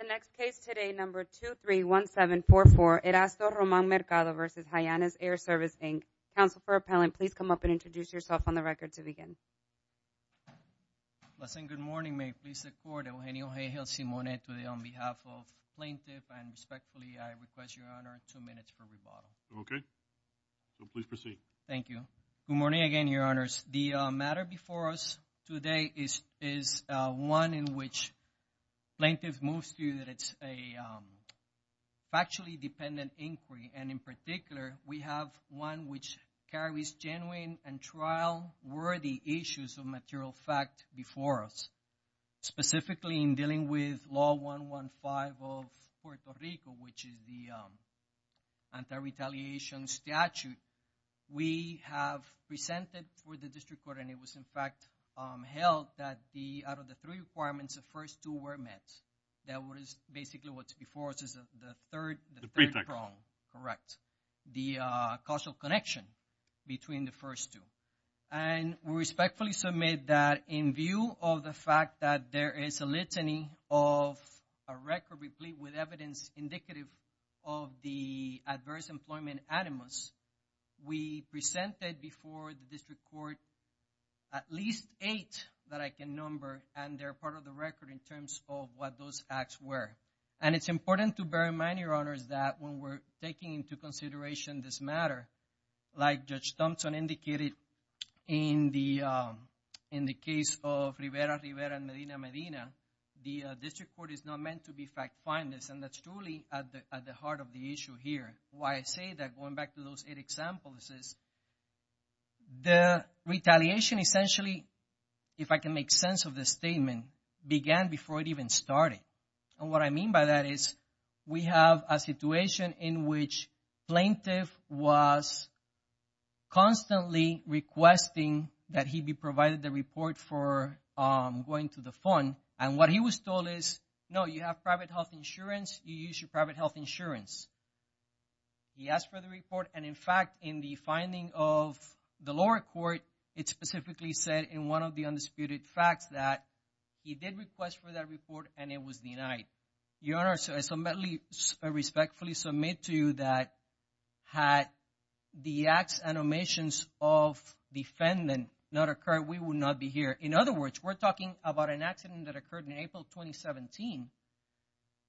The next case today, number 231744, Erasto Román Mercado v. Hyannis Air Service, Inc. Counsel for Appellant, please come up and introduce yourself on the record to begin. Listen, good morning. May it please the court, Eugenio J. Gelsimone today on behalf of plaintiff and respectfully I request, Your Honor, two minutes for rebuttal. Okay. Please proceed. Thank you. Good morning again, Your Honors. The matter before us today is one in which plaintiff moves to that it's a factually dependent inquiry. And in particular, we have one which carries genuine and trial-worthy issues of material fact before us. Specifically, in dealing with Law 115 of Puerto Rico, which is the anti-retaliation statute, we have presented for the district court and it was in fact held that out of the three requirements, the first two were met. That was basically what's before us is the third prong. Correct. The causal connection between the first two. And we respectfully submit that in view of the fact that there is a litany of a record replete with evidence indicative of the adverse employment animus, we presented before the district court at least eight that I can number and they're part of the record in terms of what those acts were. And it's important to bear in mind, Your Honors, that when we're taking into consideration this matter, like Judge Thompson indicated in the case of Rivera, Rivera, and Medina, Medina, the district court is not meant to be fact-finders and that's truly at the heart of the issue here. Why I say that, going back to those eight examples, is the retaliation essentially, if I can make sense of the statement, began before it even started. And what I mean by that is we have a situation in which plaintiff was constantly requesting that he be provided the report for going to the fund. And what he was told is, no, you have private health insurance, you use your private health insurance. He asked for the report and, in fact, in the finding of the lower court, it specifically said in one of the undisputed facts that he did request for that report and it was denied. Your Honors, I respectfully submit to you that had the acts and omissions of defendant not occurred, we would not be here. In other words, we're talking about an accident that occurred in April 2017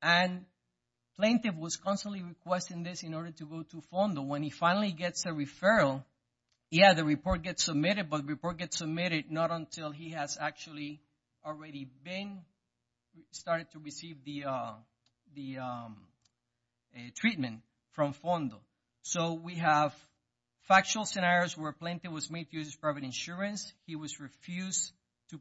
and plaintiff was constantly requesting this in order to go to FONDO. When he finally gets a referral, yeah, the report gets submitted, but the report gets submitted not until he has actually already been started to receive the treatment from FONDO. So we have factual scenarios where plaintiff was made to use his private insurance, he was refused to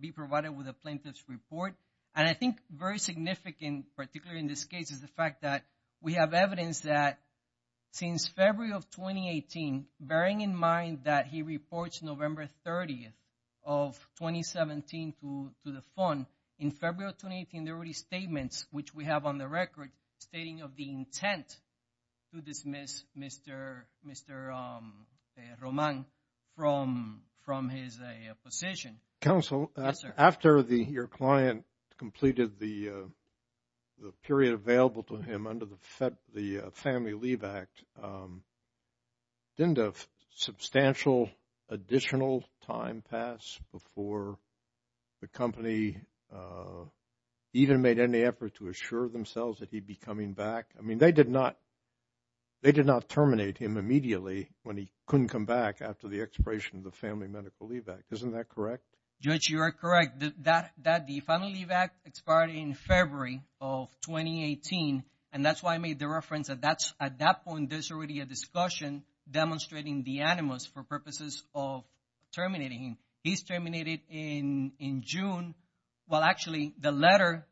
be provided with a plaintiff's report. And I think very significant, particularly in this case, is the fact that we have evidence that since February of 2018, bearing in mind that he reports November 30th of 2017 to the fund, in February of 2018, there were statements which we have on the record stating of the intent to dismiss Mr. Roman from his position. Counsel, after your client completed the period available to him under the Family Leave Act, didn't a substantial additional time pass before the company even made any effort to assure themselves that he'd be coming back? I mean, they did not terminate him immediately when he couldn't come back after the expiration of the Family Medical Leave Act. Isn't that correct? Judge, you are correct that the Family Leave Act expired in February of 2018. And that's why I made the reference that at that point, there's already a discussion demonstrating the animus for purposes of terminating him. He's terminated in June. Well, actually, the letter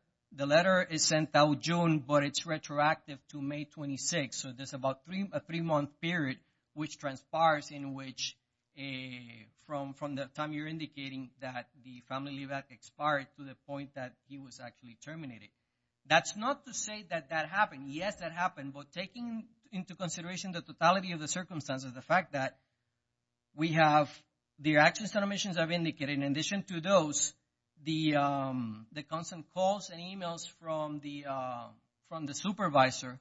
is sent out June, but it's retroactive to May 26. So there's about a three-month period which transpires in which from the time you're indicating that the Family Leave Act expired to the point that he was actually terminated. That's not to say that that happened. Yes, that happened. But taking into consideration the totality of the circumstances, the fact that we have the actions and omissions I've indicated in addition to those, the constant calls and emails from the supervisor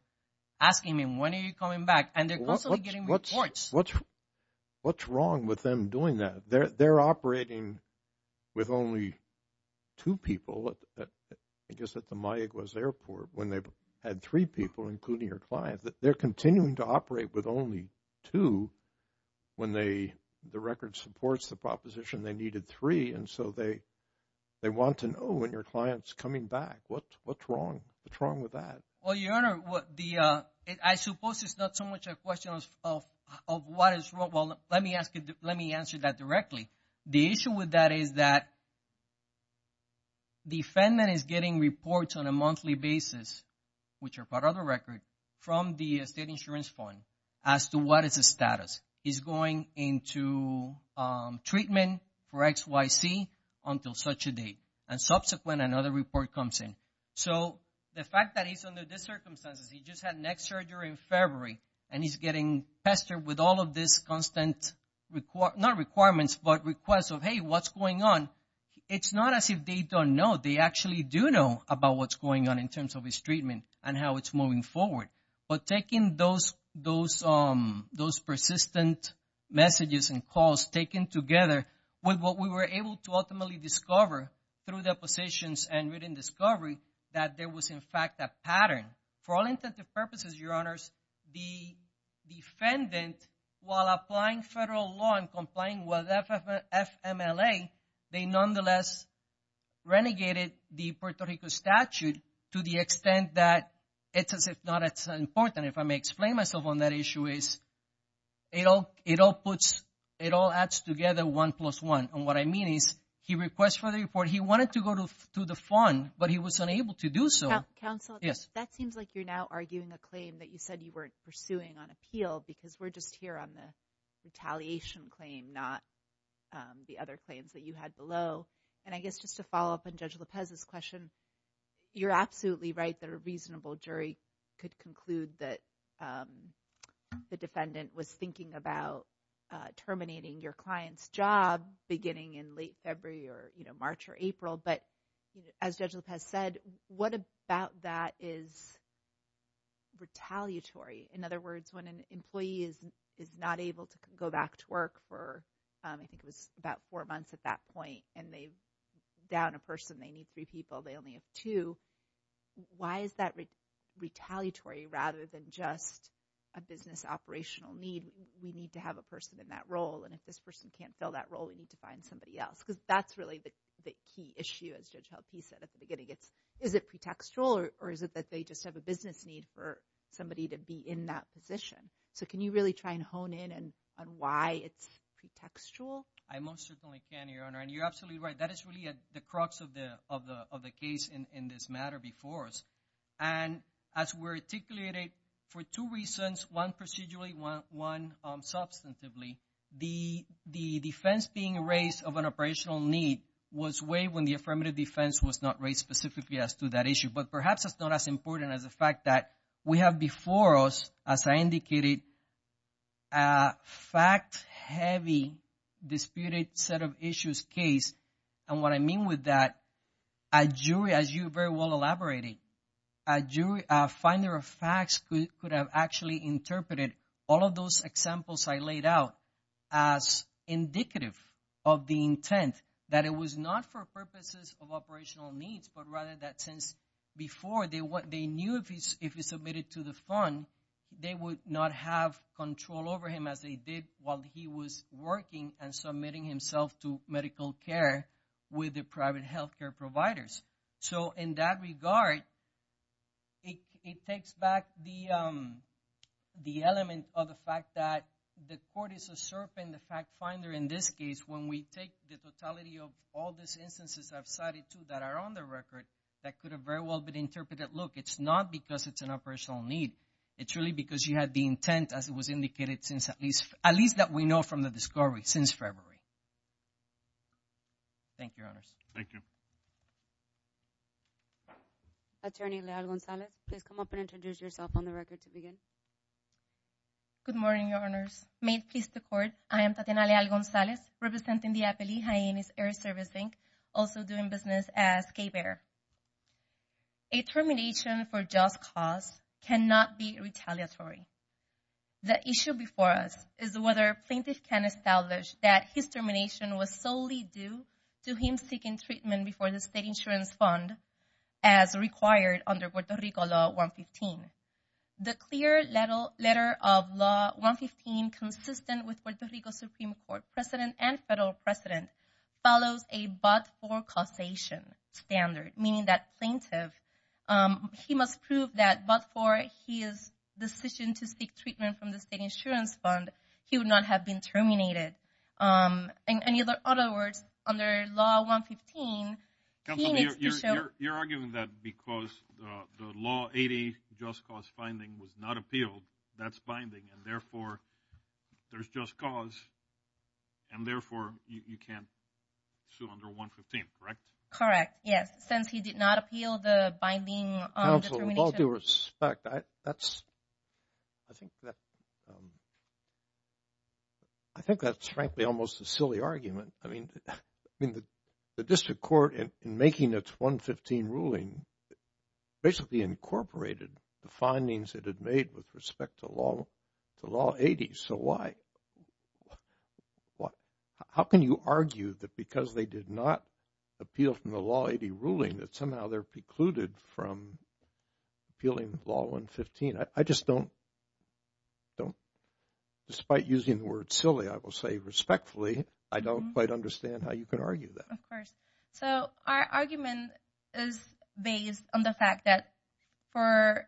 asking me, when are you coming back? And they're constantly getting reports. What's wrong with them doing that? They're operating with only two people, I guess, at the Mayaguez Airport when they've had three people, including your client. They're continuing to operate with only two when the record supports the proposition they needed three, and so they want to know when your client's coming back. What's wrong? What's wrong with that? Well, Your Honor, I suppose it's not so much a question of what is wrong. Well, let me answer that directly. The issue with that is that the defendant is getting reports on a monthly basis, which are part of the record, from the state insurance fund as to what is his status. He's going into treatment for X, Y, Z until such a date. And subsequent, another report comes in. So the fact that he's under these circumstances, he just had neck surgery in February, and he's getting pestered with all of these constant, not requirements, but requests of, hey, what's going on? It's not as if they don't know. They actually do know about what's going on in terms of his treatment and how it's moving forward. But taking those persistent messages and calls taken together with what we were able to ultimately discover through depositions and written discovery that there was, in fact, a pattern. For all intents and purposes, Your Honors, the defendant, while applying federal law and complying with FMLA, they nonetheless renegated the Puerto Rico statute to the extent that it's as if not as important. If I may explain myself on that issue is it all adds together one plus one. And what I mean is he requests for the report. He wanted to go to the fund, but he was unable to do so. Counsel, that seems like you're now arguing a claim that you said you weren't pursuing on appeal because we're just here on the retaliation claim, not the other claims that you had below. And I guess just to follow up on Judge Lopez's question, you're absolutely right that a reasonable jury could conclude that the defendant was thinking about terminating your client's job beginning in late February or March or April. But as Judge Lopez said, what about that is retaliatory? In other words, when an employee is not able to go back to work for I think it was about four months at that point and they've down a person, they need three people, they only have two, why is that retaliatory rather than just a business operational need? We need to have a person in that role. And if this person can't fill that role, we need to find somebody else. Because that's really the key issue, as Judge Lopez said at the beginning. Is it pretextual or is it that they just have a business need for somebody to be in that position? So can you really try and hone in on why it's pretextual? I most certainly can, Your Honor. And you're absolutely right. That is really the crux of the case in this matter before us. And as we're articulating for two reasons, one procedurally, one substantively, the defense being raised of an operational need was waived when the affirmative defense was not raised specifically as to that issue. But perhaps it's not as important as the fact that we have before us, as I indicated, a fact-heavy disputed set of issues case. And what I mean with that, a jury, as you very well elaborated, a jury, a finder of facts could have actually interpreted all of those examples I laid out as indicative of the intent, that it was not for purposes of operational needs, but rather that since before they knew if he submitted to the fund, they would not have control over him as they did while he was working and submitting himself to medical care with the private health care providers. So in that regard, it takes back the element of the fact that the court is a serpent, the fact finder in this case, when we take the totality of all these instances I've cited too that are on the record, that could have very well been interpreted, that look, it's not because it's an operational need. It's really because you had the intent, as it was indicated, at least that we know from the discovery since February. Thank you, Your Honors. Thank you. Attorney Leal-Gonzalez, please come up and introduce yourself on the record to begin. Good morning, Your Honors. May it please the Court, I am Tatiana Leal-Gonzalez, representing the Appellee Hyenas Air Service, Inc., also doing business as K-Bear. A termination for just cause cannot be retaliatory. The issue before us is whether a plaintiff can establish that his termination was solely due to him seeking treatment before the State Insurance Fund, as required under Puerto Rico Law 115. The clear letter of Law 115, consistent with Puerto Rico Supreme Court precedent and federal precedent, follows a but-for causation standard, meaning that plaintiff, he must prove that but for his decision to seek treatment from the State Insurance Fund, he would not have been terminated. In other words, under Law 115, he needs to show You're arguing that because the Law 80 just cause finding was not appealed, that's binding, and therefore, there's just cause, and therefore, you can't sue under 115, correct? Correct, yes. Since he did not appeal the binding determination. Counsel, with all due respect, I think that's frankly almost a silly argument. I mean, the district court, in making its 115 ruling, basically incorporated the findings it had made with respect to Law 80, so why? How can you argue that because they did not appeal from the Law 80 ruling, that somehow they're precluded from appealing Law 115? I just don't, despite using the word silly, I will say respectfully, I don't quite understand how you could argue that. Of course. So, our argument is based on the fact that for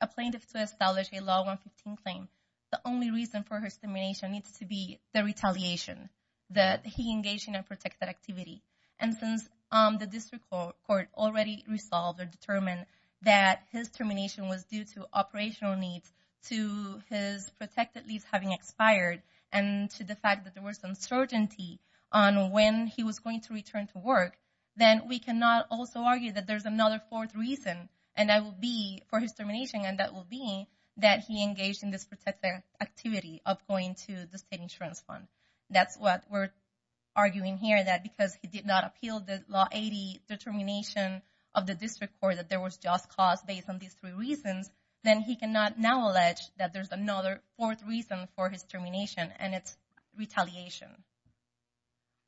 a plaintiff to establish a Law 115 claim, the only reason for his termination needs to be the retaliation that he engaged in a protected activity. And since the district court already resolved or determined that his termination was due to operational needs, to his protected lease having expired, and to the fact that there was uncertainty on when he was going to return to work, then we cannot also argue that there's another fourth reason, and that would be, for his termination, and that would be that he engaged in this protected activity of going to the state insurance fund. That's what we're arguing here, that because he did not appeal the Law 80 determination of the district court, that there was just cause based on these three reasons, then he cannot now allege that there's another fourth reason for his termination, and it's retaliation.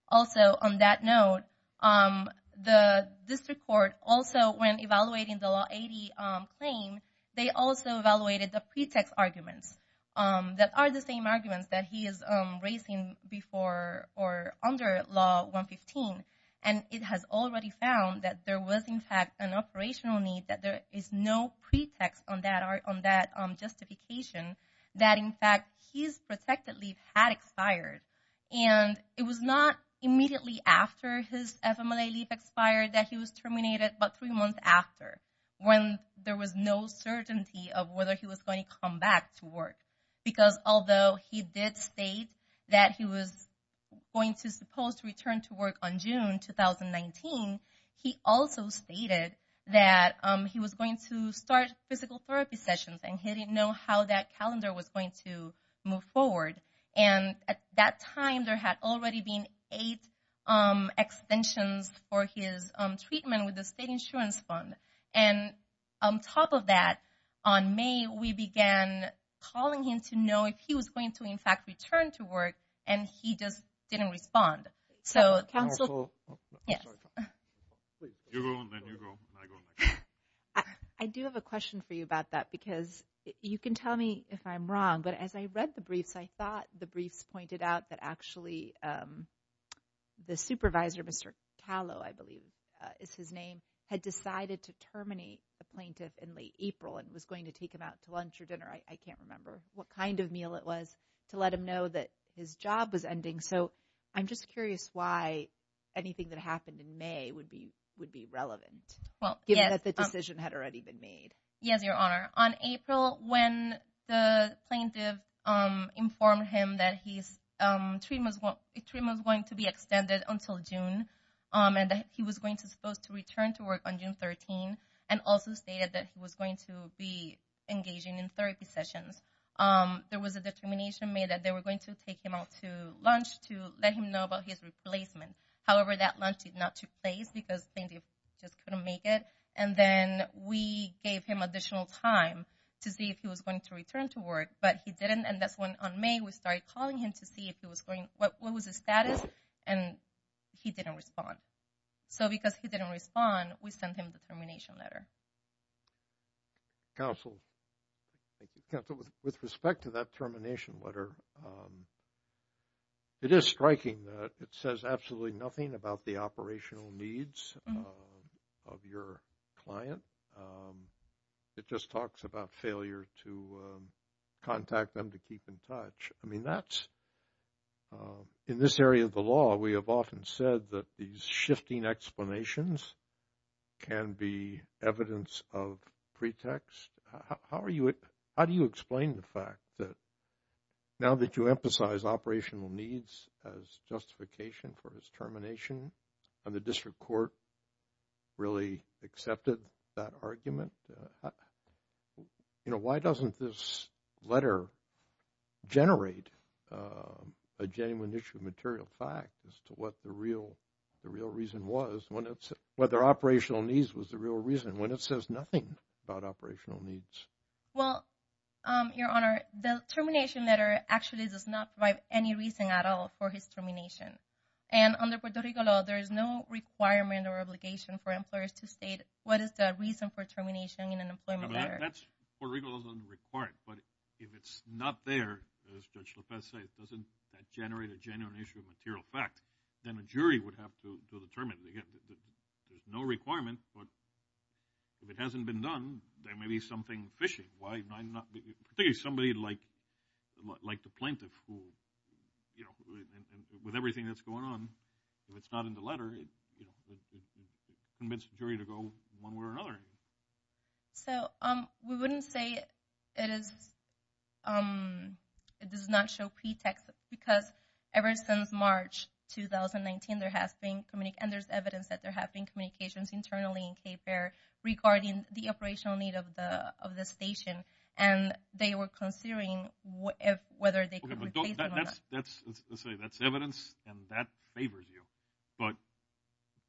Also, on that note, the district court also, when evaluating the Law 80 claim, they also evaluated the pretext arguments that are the same arguments that he is raising before or under Law 115, and it has already found that there was, in fact, an operational need, that there is no pretext on that justification, that, in fact, his protected leave had expired, and it was not immediately after his FMLA leave expired that he was terminated, but three months after, when there was no certainty of whether he was going to come back to work, because although he did state that he was going to, supposed to return to work on June 2019, he also stated that he was going to start physical therapy sessions, and he didn't know how that calendar was going to move forward, and at that time, there had already been eight extensions for his treatment with the state insurance fund, and on top of that, on May, we began calling him to know if he was going to, in fact, return to work, and he just didn't respond. So, counsel, yes. I do have a question for you about that, because you can tell me if I'm wrong, but as I read the briefs, I thought the briefs pointed out that actually the supervisor, Mr. Calo, I believe is his name, had decided to terminate the plaintiff in late April and was going to take him out to lunch or dinner, I can't remember what kind of meal it was, to let him know that his job was ending, so I'm just curious why anything that happened in May would be relevant, given that the decision had already been made. Yes, Your Honor. On April, when the plaintiff informed him that his treatment was going to be extended until June, and that he was going to be supposed to return to work on June 13, and also stated that he was going to be engaging in therapy sessions, there was a determination made that they were going to take him out to lunch to let him know about his replacement. However, that lunch did not take place because the plaintiff just couldn't make it. And then we gave him additional time to see if he was going to return to work, but he didn't, and that's when on May we started calling him to see if he was going, what was his status, and he didn't respond. So, because he didn't respond, we sent him the termination letter. Counsel, with respect to that termination letter, it is striking that it says absolutely nothing about the operational needs of your client. It just talks about failure to contact them to keep in touch. In this area of the law, we have often said that these shifting explanations can be evidence of pretext. How do you explain the fact that now that you emphasize operational needs as justification for his termination, and the district court really accepted that argument, why doesn't this letter generate a genuine issue of material fact as to what the real reason was, whether operational needs was the real reason, when it says nothing about operational needs? Well, Your Honor, the termination letter actually does not provide any reason at all for his termination. And under Puerto Rico law, there is no requirement or obligation for employers to state what is the reason for termination in an employment letter. That's what Puerto Rico doesn't require. But if it's not there, as Judge Lopez says, doesn't that generate a genuine issue of material fact, then a jury would have to determine. Again, there's no requirement, but if it hasn't been done, there may be something fishy. Particularly somebody like the plaintiff who, with everything that's going on, if it's not in the letter, it permits the jury to go one way or another. So we wouldn't say it does not show pretext, because ever since March 2019, and there's evidence that there have been communications internally in Cape Verde regarding the operational need of the station, and they were considering whether they could... Okay, but that's evidence, and that favors you. But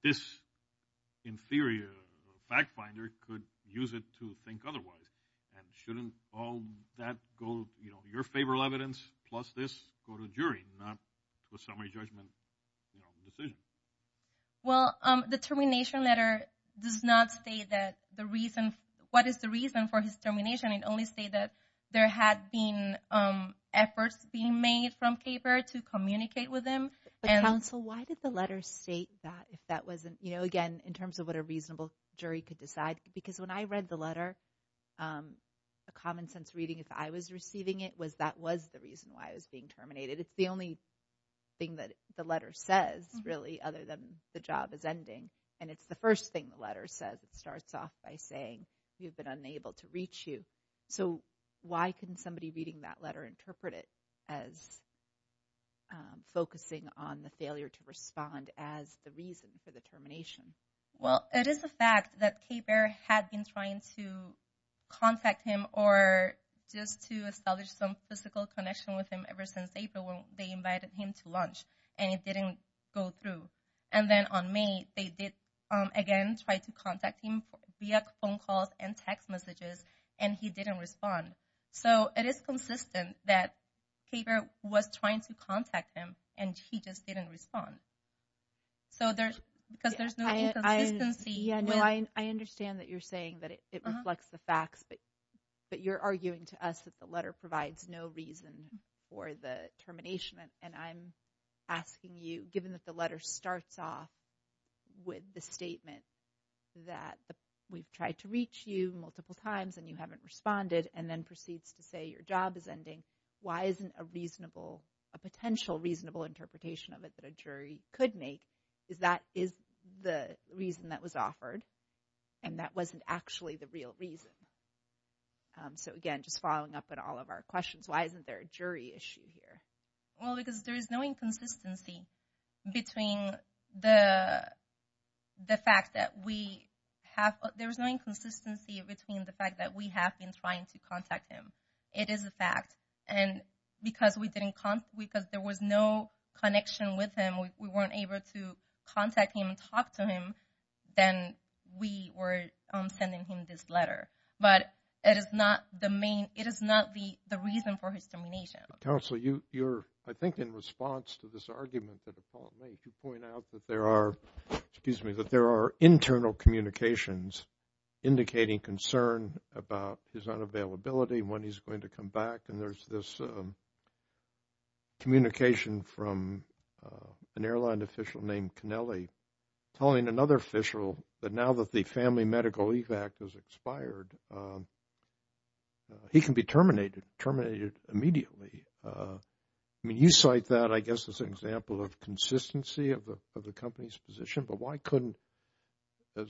this, in theory, a fact finder could use it to think otherwise. And shouldn't all that go, your favorable evidence plus this, go to the jury, not the summary judgment decision? Well, the termination letter does not state what is the reason for his termination. It only states that there had been efforts being made from Cape Verde to communicate with them. But, counsel, why did the letter state that, if that wasn't, again, in terms of what a reasonable jury could decide? Because when I read the letter, a common sense reading, if I was receiving it, was that was the reason why I was being terminated. It's the only thing that the letter says, really, other than the job is ending. And it's the first thing the letter says. It starts off by saying, you've been unable to reach you. So why couldn't somebody reading that letter interpret it as focusing on the failure to respond as the reason for the termination? Well, it is a fact that Cape Verde had been trying to contact him or just to establish some physical connection with him ever since April when they invited him to lunch. And it didn't go through. And then on May, they did, again, try to contact him via phone calls and text messages. And he didn't respond. So it is consistent that Cape Verde was trying to contact him, and he just didn't respond. Because there's no inconsistency. Yeah, no, I understand that you're saying that it reflects the facts. But you're arguing to us that the letter provides no reason for the termination. And I'm asking you, given that the letter starts off with the statement that we've tried to reach you multiple times, and you haven't responded, and then proceeds to say your job is ending, why isn't a reasonable, a potential reasonable interpretation of it that a jury could make is that is the reason that was offered, and that wasn't actually the real reason? So, again, just following up on all of our questions, why isn't there a jury issue here? Well, because there is no inconsistency between the fact that we have – there is no inconsistency between the fact that we have been trying to contact him. It is a fact. And because we didn't – because there was no connection with him, we weren't able to contact him and talk to him, then we were sending him this letter. But it is not the main – it is not the reason for his termination. Counsel, you're – I think in response to this argument that Paul made, you point out that there are – excuse me – that there are internal communications indicating concern about his unavailability, when he's going to come back. And there's this communication from an airline official named Kennelly telling another official that now that the Family Medical Leave Act has expired, he can be terminated immediately. I mean, you cite that, I guess, as an example of consistency of the company's position. But why couldn't – as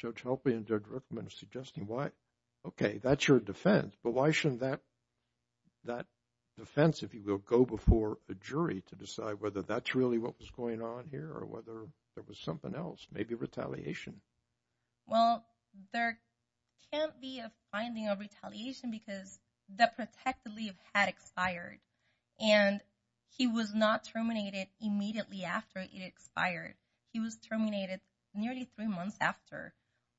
Judge Hoffman and Judge Rickman are suggesting, why – okay, that's your defense. But why shouldn't that defense, if you will, go before a jury to decide whether that's really what was going on here or whether there was something else, maybe retaliation? Well, there can't be a finding of retaliation because the protected leave had expired. And he was not terminated immediately after it expired. He was terminated nearly three months after.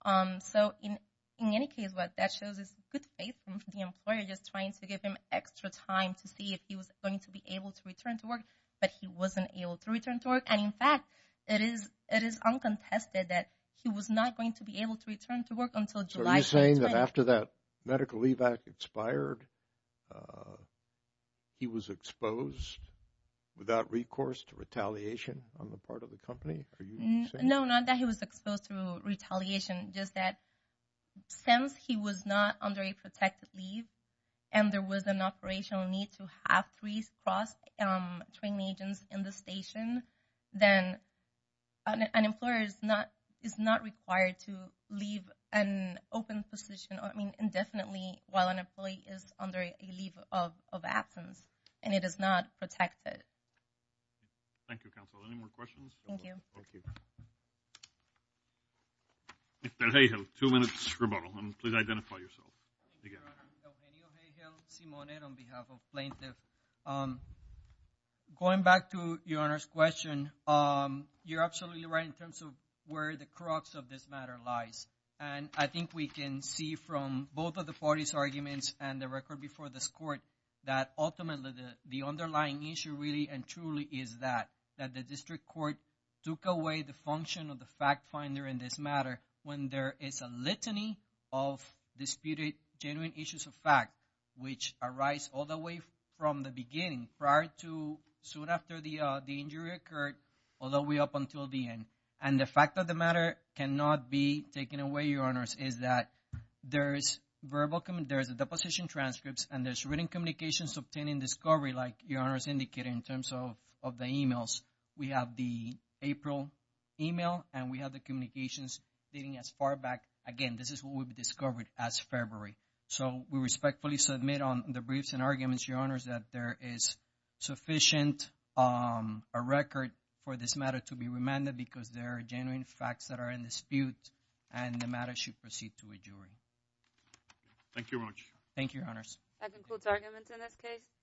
So in any case, what that shows is good faith from the employer just trying to give him extra time to see if he was going to be able to return to work. But he wasn't able to return to work. And, in fact, it is uncontested that he was not going to be able to return to work until July 2020. And after that medical leave act expired, he was exposed without recourse to retaliation on the part of the company? Are you saying – No, not that he was exposed to retaliation. Since he was not under a protected leave and there was an operational need to have three cross-training agents in the station, then an employer is not required to leave an open position indefinitely while an employee is under a leave of absence. And it is not protected. Thank you, Counsel. Any more questions? Thank you. Okay. Mr. Hayhill, two minutes rebuttal. And please identify yourself again. Eugenio Hayhill, Simonet, on behalf of plaintiff. Going back to Your Honor's question, you're absolutely right in terms of where the crux of this matter lies. And I think we can see from both of the parties' arguments and the record before this court that ultimately the underlying issue really and truly is that the district court took away the function of the fact finder in this matter when there is a litany of disputed genuine issues of fact which arise all the way from the beginning prior to soon after the injury occurred all the way up until the end. And the fact of the matter cannot be taken away, Your Honors, is that there is a deposition transcripts and there's written communications obtaining discovery like Your Honors indicated in terms of the emails. We have the April email and we have the communications dating as far back. Again, this is what would be discovered as February. So we respectfully submit on the briefs and arguments, Your Honors, that there is sufficient record for this matter to be remanded because there are genuine facts that are in dispute and the matter should proceed to a jury. Thank you very much. Thank you, Your Honors. That concludes arguments in this case.